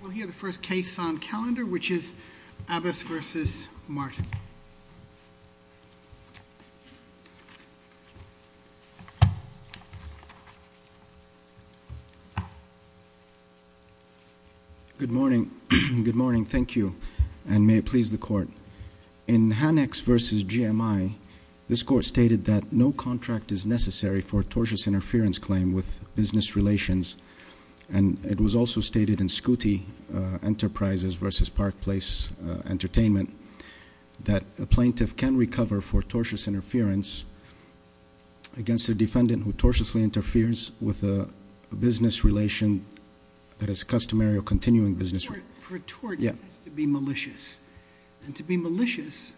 We'll hear the first case on calendar, which is Abbas v. Martin. Good morning. Good morning. Thank you, and may it please the Court. In Hanex v. GMI, this Court stated that no contract is necessary for a tortious interference claim with business relations, and it was also stated in Scuti Enterprises v. Park Place Entertainment that a plaintiff can recover for tortious interference against a defendant who tortiously interferes with a business relation that is customary or continuing business. For a tort, it has to be malicious, and to be malicious,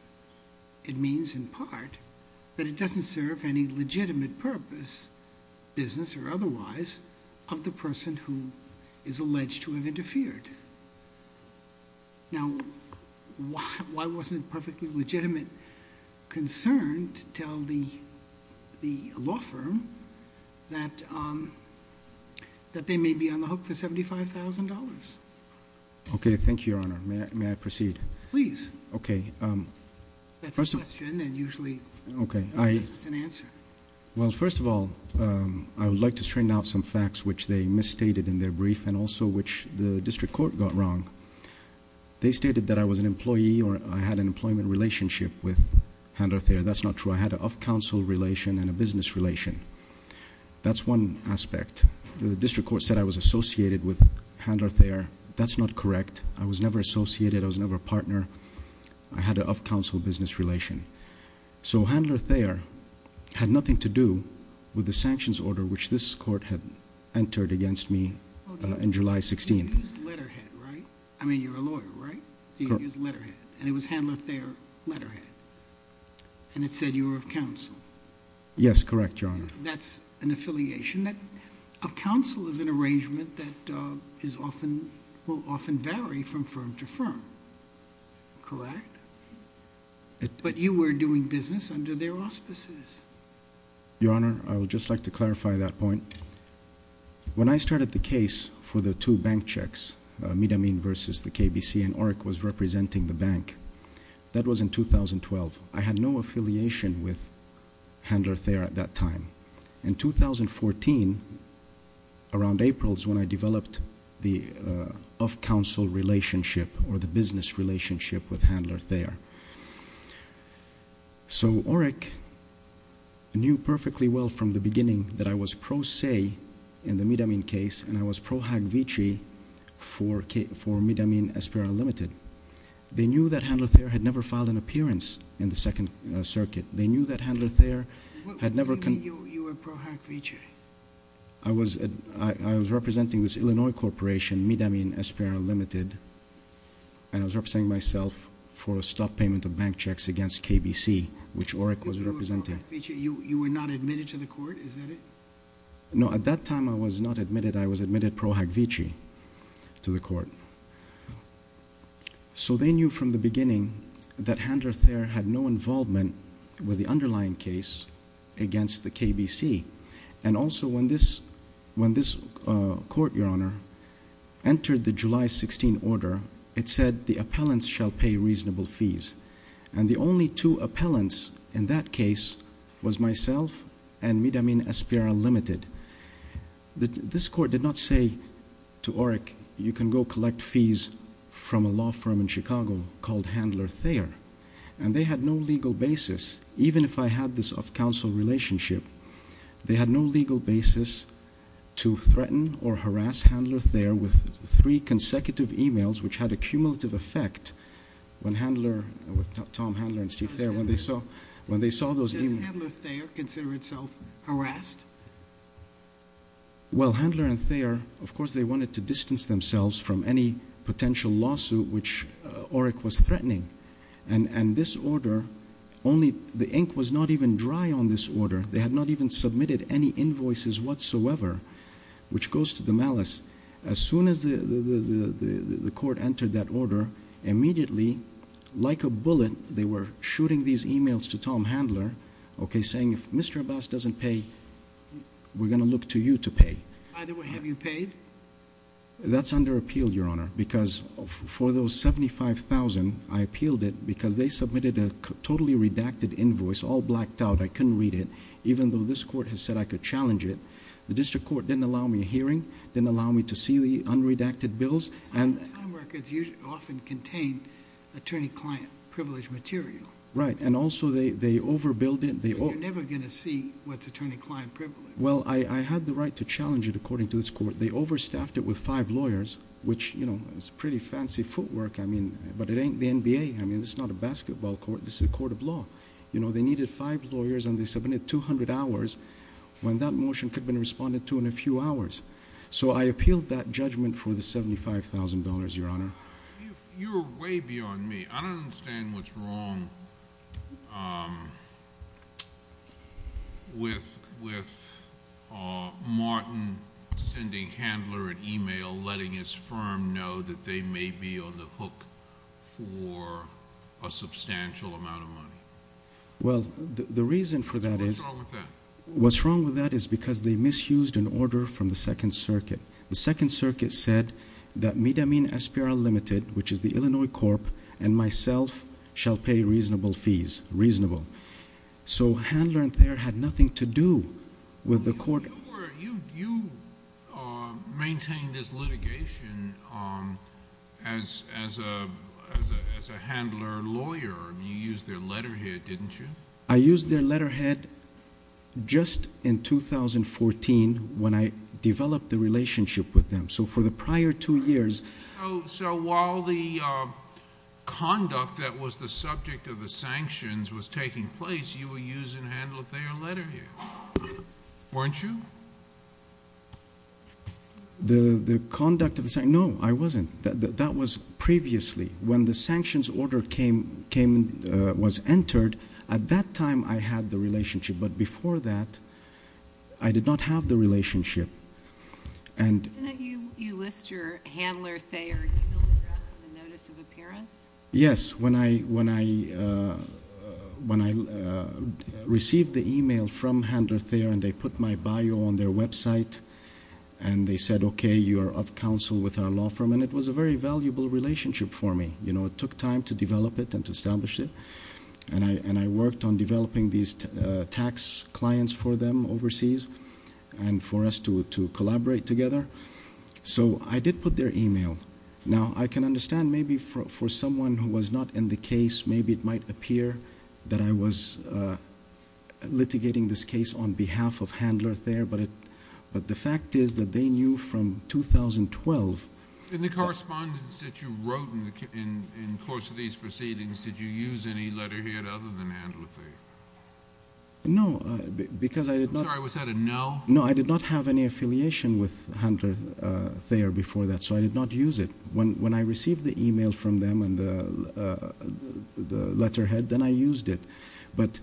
it means in part that it doesn't serve any legitimate purpose, business or otherwise, of the person who is alleged to have interfered. Now, why wasn't it perfectly legitimate concern to tell the law firm that they may be on the hook for $75,000? Okay, thank you, Your Honor. May I proceed? Please. That's a question, and usually this is an answer. Well, first of all, I would like to straighten out some facts which they misstated in their brief and also which the district court got wrong. They stated that I was an employee or I had an employment relationship with Handler Thayer. That's not true. I had an off-council relation and a business relation. That's one aspect. The district court said I was associated with Handler Thayer. That's not correct. I was never associated. I was never a partner. I had an off-council business relation. So Handler Thayer had nothing to do with the sanctions order which this court had entered against me on July 16th. You used letterhead, right? I mean, you're a lawyer, right? You used letterhead, and it was Handler Thayer letterhead, and it said you were of counsel. Yes, correct, Your Honor. That's an affiliation. A counsel is an arrangement that will often vary from firm to firm, correct? But you were doing business under their auspices. Your Honor, I would just like to clarify that point. When I started the case for the two bank checks, Midamine v. the KBC, and ORC was representing the bank, that was in 2012. I had no affiliation with Handler Thayer at that time. In 2014, around April, is when I developed the off-council relationship or the business relationship with Handler Thayer. So ORC knew perfectly well from the beginning that I was pro se in the Midamine case, and I was pro hack vici for Midamine Espera Limited. They knew that Handler Thayer had never filed an appearance in the Second Circuit. What do you mean you were pro hack vici? I was representing this Illinois corporation, Midamine Espera Limited, and I was representing myself for a stop payment of bank checks against KBC, which ORC was representing. You were not admitted to the court? Is that it? No, at that time I was not admitted. I was admitted pro hack vici to the court. So they knew from the beginning that Handler Thayer had no involvement with the underlying case against the KBC. And also when this court, Your Honor, entered the July 16 order, it said the appellants shall pay reasonable fees. And the only two appellants in that case was myself and Midamine Espera Limited. This court did not say to ORC, you can go collect fees from a law firm in Chicago called Handler Thayer. And they had no legal basis, even if I had this off-counsel relationship, they had no legal basis to threaten or harass Handler Thayer with three consecutive emails, which had a cumulative effect when Handler, Tom Handler and Steve Thayer, when they saw those emails- Well, Handler and Thayer, of course, they wanted to distance themselves from any potential lawsuit which ORC was threatening. And this order, only the ink was not even dry on this order. They had not even submitted any invoices whatsoever, which goes to the malice. As soon as the court entered that order, immediately, like a bullet, they were shooting these emails to Tom Handler, okay, saying if Mr. Abbas doesn't pay, we're going to look to you to pay. Either way, have you paid? That's under appeal, Your Honor, because for those 75,000, I appealed it because they submitted a totally redacted invoice, all blacked out. I couldn't read it, even though this court has said I could challenge it. The district court didn't allow me a hearing, didn't allow me to see the unredacted bills. Time records often contain attorney-client privilege material. Right, and also they overbilled it. You're never going to see what's attorney-client privilege. Well, I had the right to challenge it, according to this court. They overstaffed it with five lawyers, which is pretty fancy footwork, but it ain't the NBA. I mean, this is not a basketball court. This is a court of law. They needed five lawyers, and they submitted 200 hours when that motion could have been responded to in a few hours. So I appealed that judgment for the $75,000, Your Honor. You're way beyond me. I don't understand what's wrong with Martin sending Handler an email letting his firm know that they may be on the hook for a substantial amount of money. Well, the reason for that is— What's wrong with that? What's wrong with that is because they misused an order from the Second Circuit. The Second Circuit said that Midamin Espera Limited, which is the Illinois Corp., and myself shall pay reasonable fees. Reasonable. So Handler and Thayer had nothing to do with the court. You maintained this litigation as a Handler lawyer. You used their letterhead, didn't you? I used their letterhead just in 2014 when I developed the relationship with them. So for the prior two years— So while the conduct that was the subject of the sanctions was taking place, you were using Handler Thayer letterhead, weren't you? The conduct of the—no, I wasn't. That was previously. When the sanctions order was entered, at that time I had the relationship, but before that I did not have the relationship. Didn't you list your Handler Thayer email address in the notice of appearance? Yes. When I received the email from Handler Thayer and they put my bio on their website and they said, okay, you are of counsel with our law firm, and it was a very valuable relationship for me. It took time to develop it and to establish it, and I worked on developing these tax clients for them overseas and for us to collaborate together. So I did put their email. Now, I can understand maybe for someone who was not in the case, maybe it might appear that I was litigating this case on behalf of Handler Thayer, but the fact is that they knew from 2012— In the correspondence that you wrote in the course of these proceedings, did you use any letterhead other than Handler Thayer? No, because I did not— I'm sorry, was that a no? No, I did not have any affiliation with Handler Thayer before that, so I did not use it. When I received the email from them and the letterhead, then I used it, but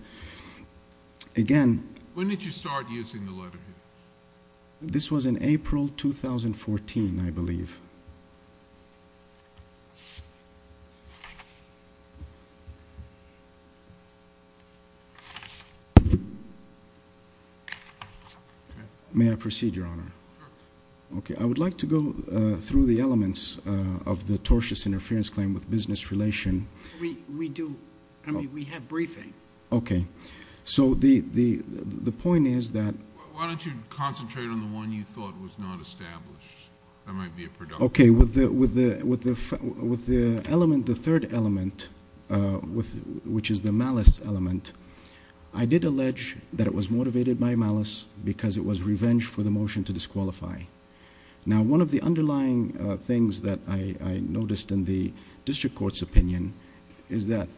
again— When did you start using the letterhead? This was in April 2014, I believe. May I proceed, Your Honor? Sure. Okay, I would like to go through the elements of the tortious interference claim with business relation. We do—I mean, we have briefing. Okay, so the point is that— Why don't you concentrate on the one you thought was not established? That might be a productive— Okay, with the element, the third element, which is the malice element, I did allege that it was motivated by malice because it was revenge for the motion to disqualify. Now, one of the underlying things that I noticed in the district court's opinion is that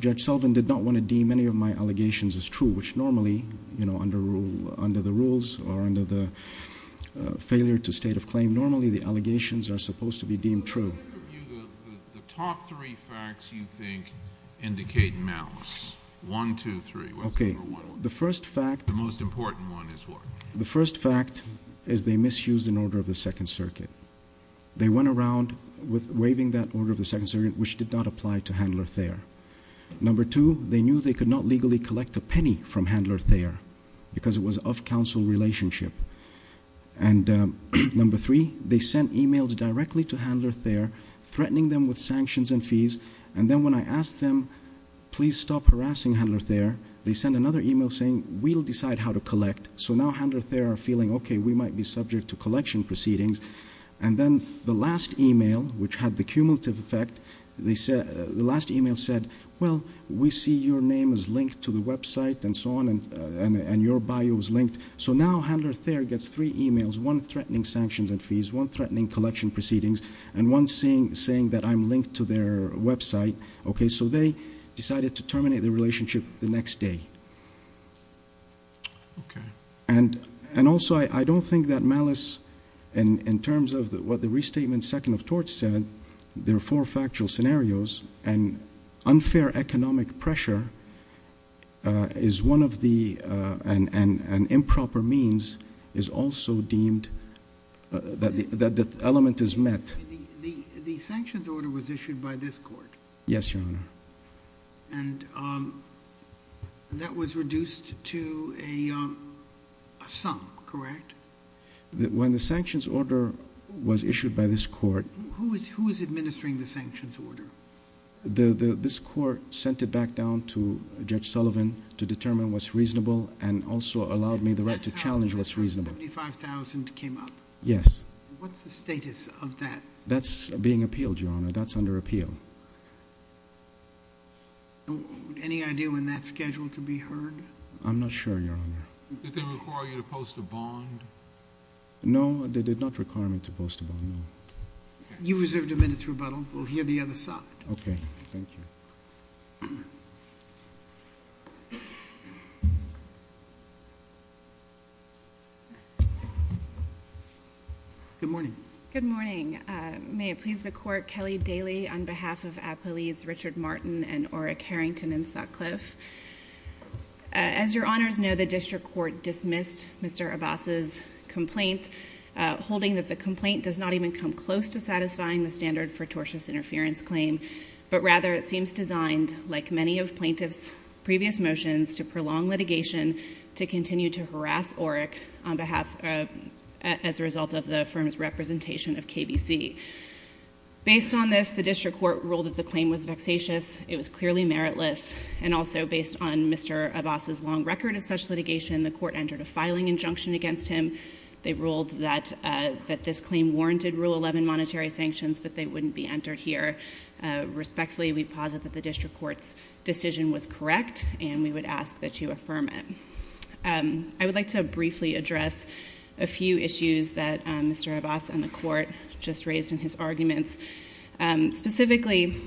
Judge Sullivan did not want to deem any of my allegations as true, which normally, you know, under the rules or under the failure to state of claim, normally the allegations are supposed to be deemed true. The top three facts you think indicate malice. One, two, three. Okay, the first fact— The most important one is what? The first fact is they misused an order of the Second Circuit. They went around waiving that order of the Second Circuit, which did not apply to Handler Thayer. Number two, they knew they could not legally collect a penny from Handler Thayer because it was an off-counsel relationship. And number three, they sent emails directly to Handler Thayer, threatening them with sanctions and fees, and then when I asked them, please stop harassing Handler Thayer, they sent another email saying, we'll decide how to collect. So now Handler Thayer are feeling, okay, we might be subject to collection proceedings. And then the last email, which had the cumulative effect, the last email said, well, we see your name is linked to the website and so on, and your bio is linked. So now Handler Thayer gets three emails, one threatening sanctions and fees, one threatening collection proceedings, and one saying that I'm linked to their website. Okay, so they decided to terminate the relationship the next day. And also, I don't think that malice in terms of what the restatement second of torts said, there are four factual scenarios, and unfair economic pressure is one of the improper means is also deemed that the element is met. The sanctions order was issued by this court. Yes, Your Honor. And that was reduced to a sum, correct? When the sanctions order was issued by this court. Who is administering the sanctions order? This court sent it back down to Judge Sullivan to determine what's reasonable and also allowed me the right to challenge what's reasonable. 75,000 came up. Yes. What's the status of that? That's being appealed, Your Honor. That's under appeal. Any idea when that's scheduled to be heard? I'm not sure, Your Honor. Did they require you to post a bond? No, they did not require me to post a bond, no. You reserved a minute's rebuttal. We'll hear the other side. Okay, thank you. Good morning. Good morning. May it please the court, Kelly Daly on behalf of appellees Richard Martin and Orrick Harrington in Sutcliffe. As Your Honors know, the district court dismissed Mr. Abbas's complaint, holding that the complaint does not even come close to satisfying the standard for tortious interference claim. But rather, it seems designed, like many of plaintiffs' previous motions, to prolong litigation to continue to harass Orrick as a result of the firm's representation of KVC. Based on this, the district court ruled that the claim was vexatious. It was clearly meritless. And also, based on Mr. Abbas's long record of such litigation, the court entered a filing injunction against him. They ruled that this claim warranted Rule 11 monetary sanctions, but they wouldn't be entered here. Respectfully, we posit that the district court's decision was correct, and we would ask that you affirm it. I would like to briefly address a few issues that Mr. Abbas and the court just raised in his arguments. Specifically,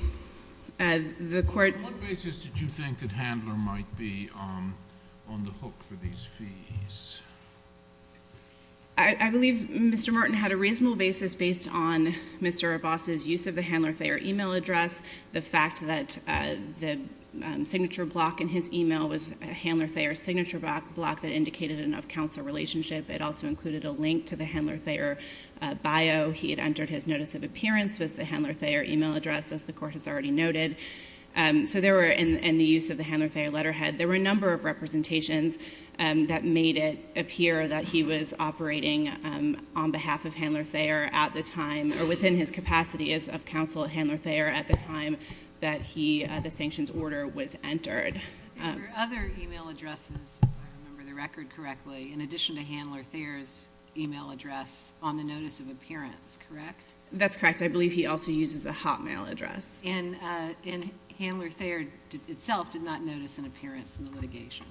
the court— What basis did you think that Handler might be on the hook for these fees? I believe Mr. Martin had a reasonable basis based on Mr. Abbas's use of the Handler-Thayer email address, the fact that the signature block in his email was a Handler-Thayer signature block that indicated an off-counselor relationship. It also included a link to the Handler-Thayer bio. He had entered his notice of appearance with the Handler-Thayer email address, as the court has already noted. So there were—in the use of the Handler-Thayer letterhead, there were a number of representations that made it appear that he was operating on behalf of Handler-Thayer at the time, or within his capacity as off-counsel at Handler-Thayer at the time that the sanctions order was entered. There were other email addresses, if I remember the record correctly, in addition to Handler-Thayer's email address on the notice of appearance, correct? That's correct. I believe he also uses a Hotmail address. And Handler-Thayer itself did not notice an appearance in the litigation.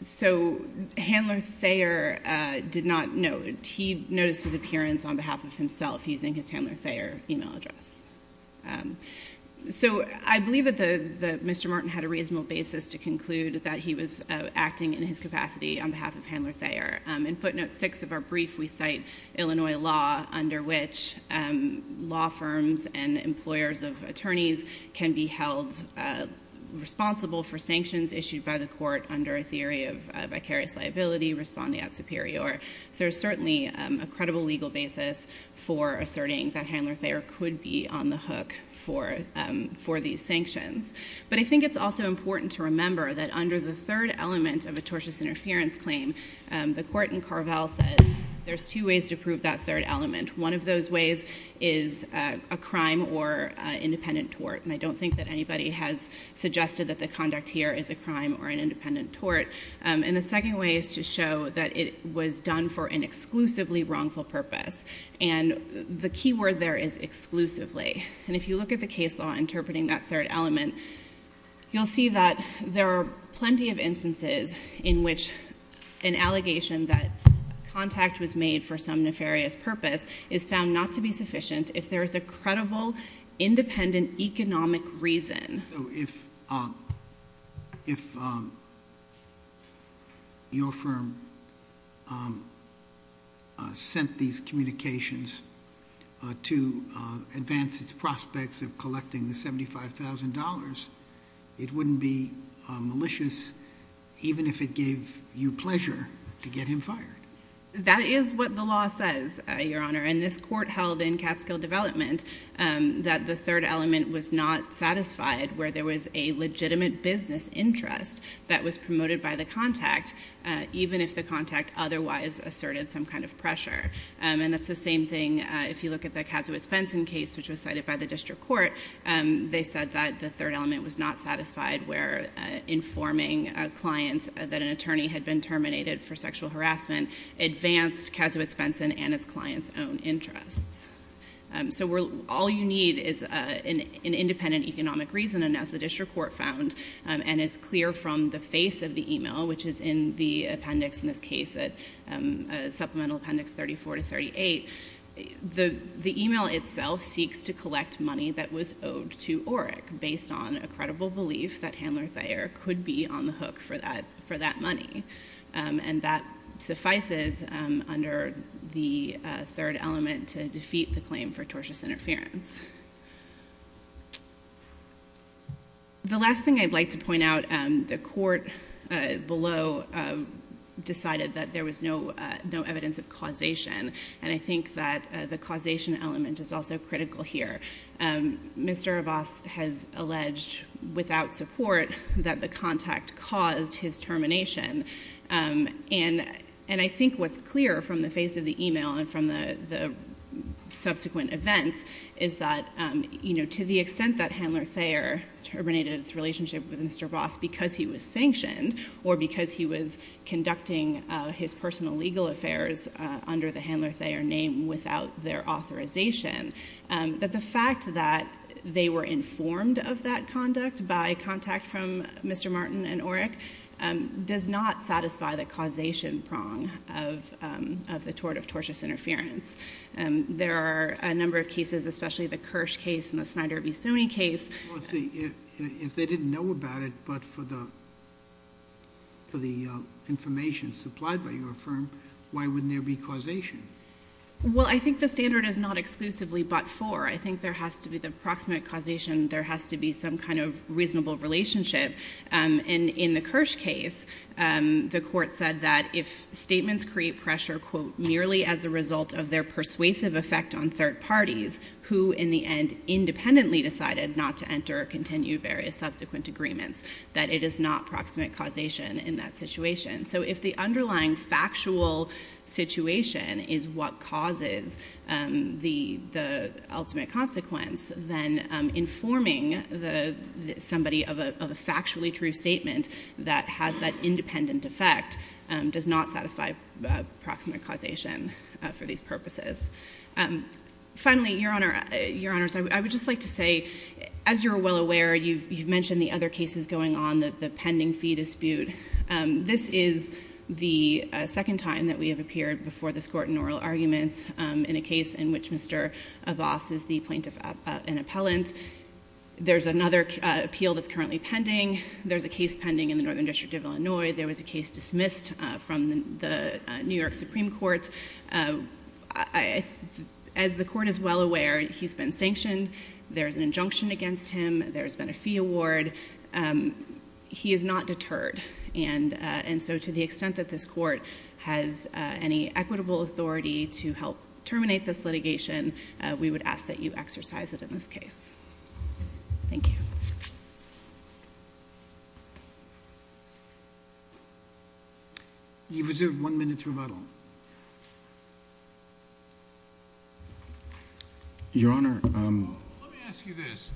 So Handler-Thayer did not—no, he noticed his appearance on behalf of himself using his Handler-Thayer email address. So I believe that Mr. Martin had a reasonable basis to conclude that he was acting in his capacity on behalf of Handler-Thayer. In footnote 6 of our brief, we cite Illinois law under which law firms and employers of attorneys can be held responsible for sanctions issued by the court under a theory of vicarious liability responding at superior. So there's certainly a credible legal basis for asserting that Handler-Thayer could be on the hook for these sanctions. But I think it's also important to remember that under the third element of a tortious interference claim, the court in Carvel says there's two ways to prove that third element. One of those ways is a crime or independent tort. And I don't think that anybody has suggested that the conduct here is a crime or an independent tort. And the second way is to show that it was done for an exclusively wrongful purpose. And the key word there is exclusively. And if you look at the case law interpreting that third element, you'll see that there are plenty of instances in which an allegation that contact was made for some nefarious purpose is found not to be sufficient if there is a credible independent economic reason. So if your firm sent these communications to advance its prospects of collecting the $75,000, it wouldn't be malicious even if it gave you pleasure to get him fired? That is what the law says, Your Honor. And this court held in Catskill Development that the third element was not satisfied where there was a legitimate business interest that was promoted by the contact, even if the contact otherwise asserted some kind of pressure. And that's the same thing if you look at the Kazowitz-Benson case, which was cited by the district court. They said that the third element was not satisfied where informing clients that an attorney had been terminated for sexual harassment advanced Kazowitz-Benson and its clients' own interests. So all you need is an independent economic reason. And as the district court found and is clear from the face of the e-mail, which is in the appendix in this case, supplemental appendix 34 to 38, the e-mail itself seeks to collect money that was owed to ORIC based on a credible belief that Handler-Thayer could be on the hook for that money. And that suffices under the third element to defeat the claim for tortious interference. The last thing I'd like to point out, the court below decided that there was no evidence of causation, and I think that the causation element is also critical here. Mr. Abbas has alleged without support that the contact caused his termination. And I think what's clear from the face of the e-mail and from the subsequent events is that, you know, to the extent that Handler-Thayer terminated his relationship with Mr. Abbas because he was sanctioned or because he was conducting his personal legal affairs under the Handler-Thayer name without their authorization, that the fact that they were informed of that conduct by contact from Mr. Martin and ORIC does not satisfy the causation prong of the tort of tortious interference. There are a number of cases, especially the Kirsch case and the Snyder v. Sony case. Well, if they didn't know about it but for the information supplied by your firm, why wouldn't there be causation? Well, I think the standard is not exclusively but for. I think there has to be the proximate causation. There has to be some kind of reasonable relationship. And in the Kirsch case, the court said that if statements create pressure, quote, merely as a result of their persuasive effect on third parties, who in the end independently decided not to enter or continue various subsequent agreements, that it is not proximate causation in that situation. So if the underlying factual situation is what causes the ultimate consequence, then informing somebody of a factually true statement that has that independent effect does not satisfy proximate causation for these purposes. Finally, Your Honors, I would just like to say, as you're well aware, you've mentioned the other cases going on, the pending fee dispute. This is the second time that we have appeared before this Court in oral arguments in a case in which Mr. Abbas is the plaintiff and appellant. There's another appeal that's currently pending. There's a case pending in the Northern District of Illinois. There was a case dismissed from the New York Supreme Court. As the Court is well aware, he's been sanctioned. There's an injunction against him. There's been a fee award. He is not deterred. And so to the extent that this Court has any equitable authority to help terminate this litigation, we would ask that you exercise it in this case. Thank you. You reserve one minute's rebuttal. Your Honor, let me ask you this.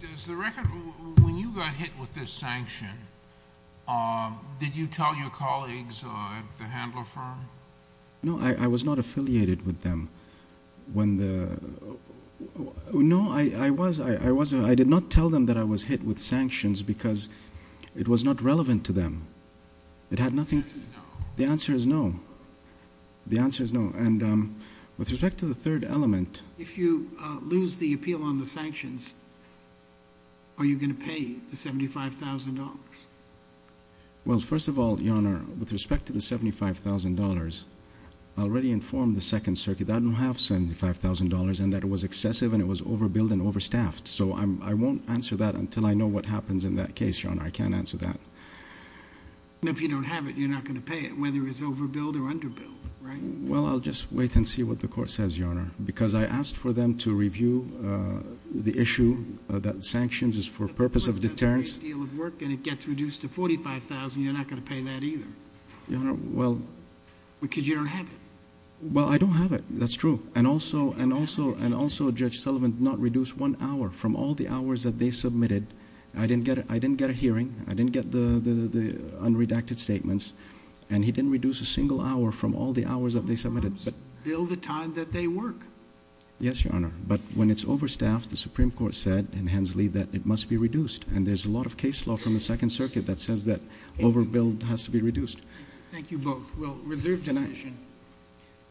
When you got hit with this sanction, did you tell your colleagues at the handler firm? No, I was not affiliated with them. No, I was. I did not tell them that I was hit with sanctions because it was not relevant to them. The answer is no. The answer is no. With respect to the third element. If you lose the appeal on the sanctions, are you going to pay the $75,000? Well, first of all, Your Honor, with respect to the $75,000, I already informed the Second Circuit that I don't have $75,000 and that it was excessive and it was overbilled and overstaffed. So I won't answer that until I know what happens in that case, Your Honor. I can't answer that. If you don't have it, you're not going to pay it, whether it's overbilled or underbilled, right? Well, I'll just wait and see what the court says, Your Honor. Because I asked for them to review the issue that sanctions is for purpose of deterrence. That's a great deal of work and it gets reduced to $45,000. You're not going to pay that either. Your Honor, well. Because you don't have it. Well, I don't have it. That's true. And also, Judge Sullivan did not reduce one hour from all the hours that they submitted. I didn't get a hearing. I didn't get the unredacted statements. And he didn't reduce a single hour from all the hours that they submitted. But sometimes, bill the time that they work. Yes, Your Honor. But when it's overstaffed, the Supreme Court said in Hensley that it must be reduced. And there's a lot of case law from the Second Circuit that says that overbilled has to be reduced. Well, reserved division. Good night.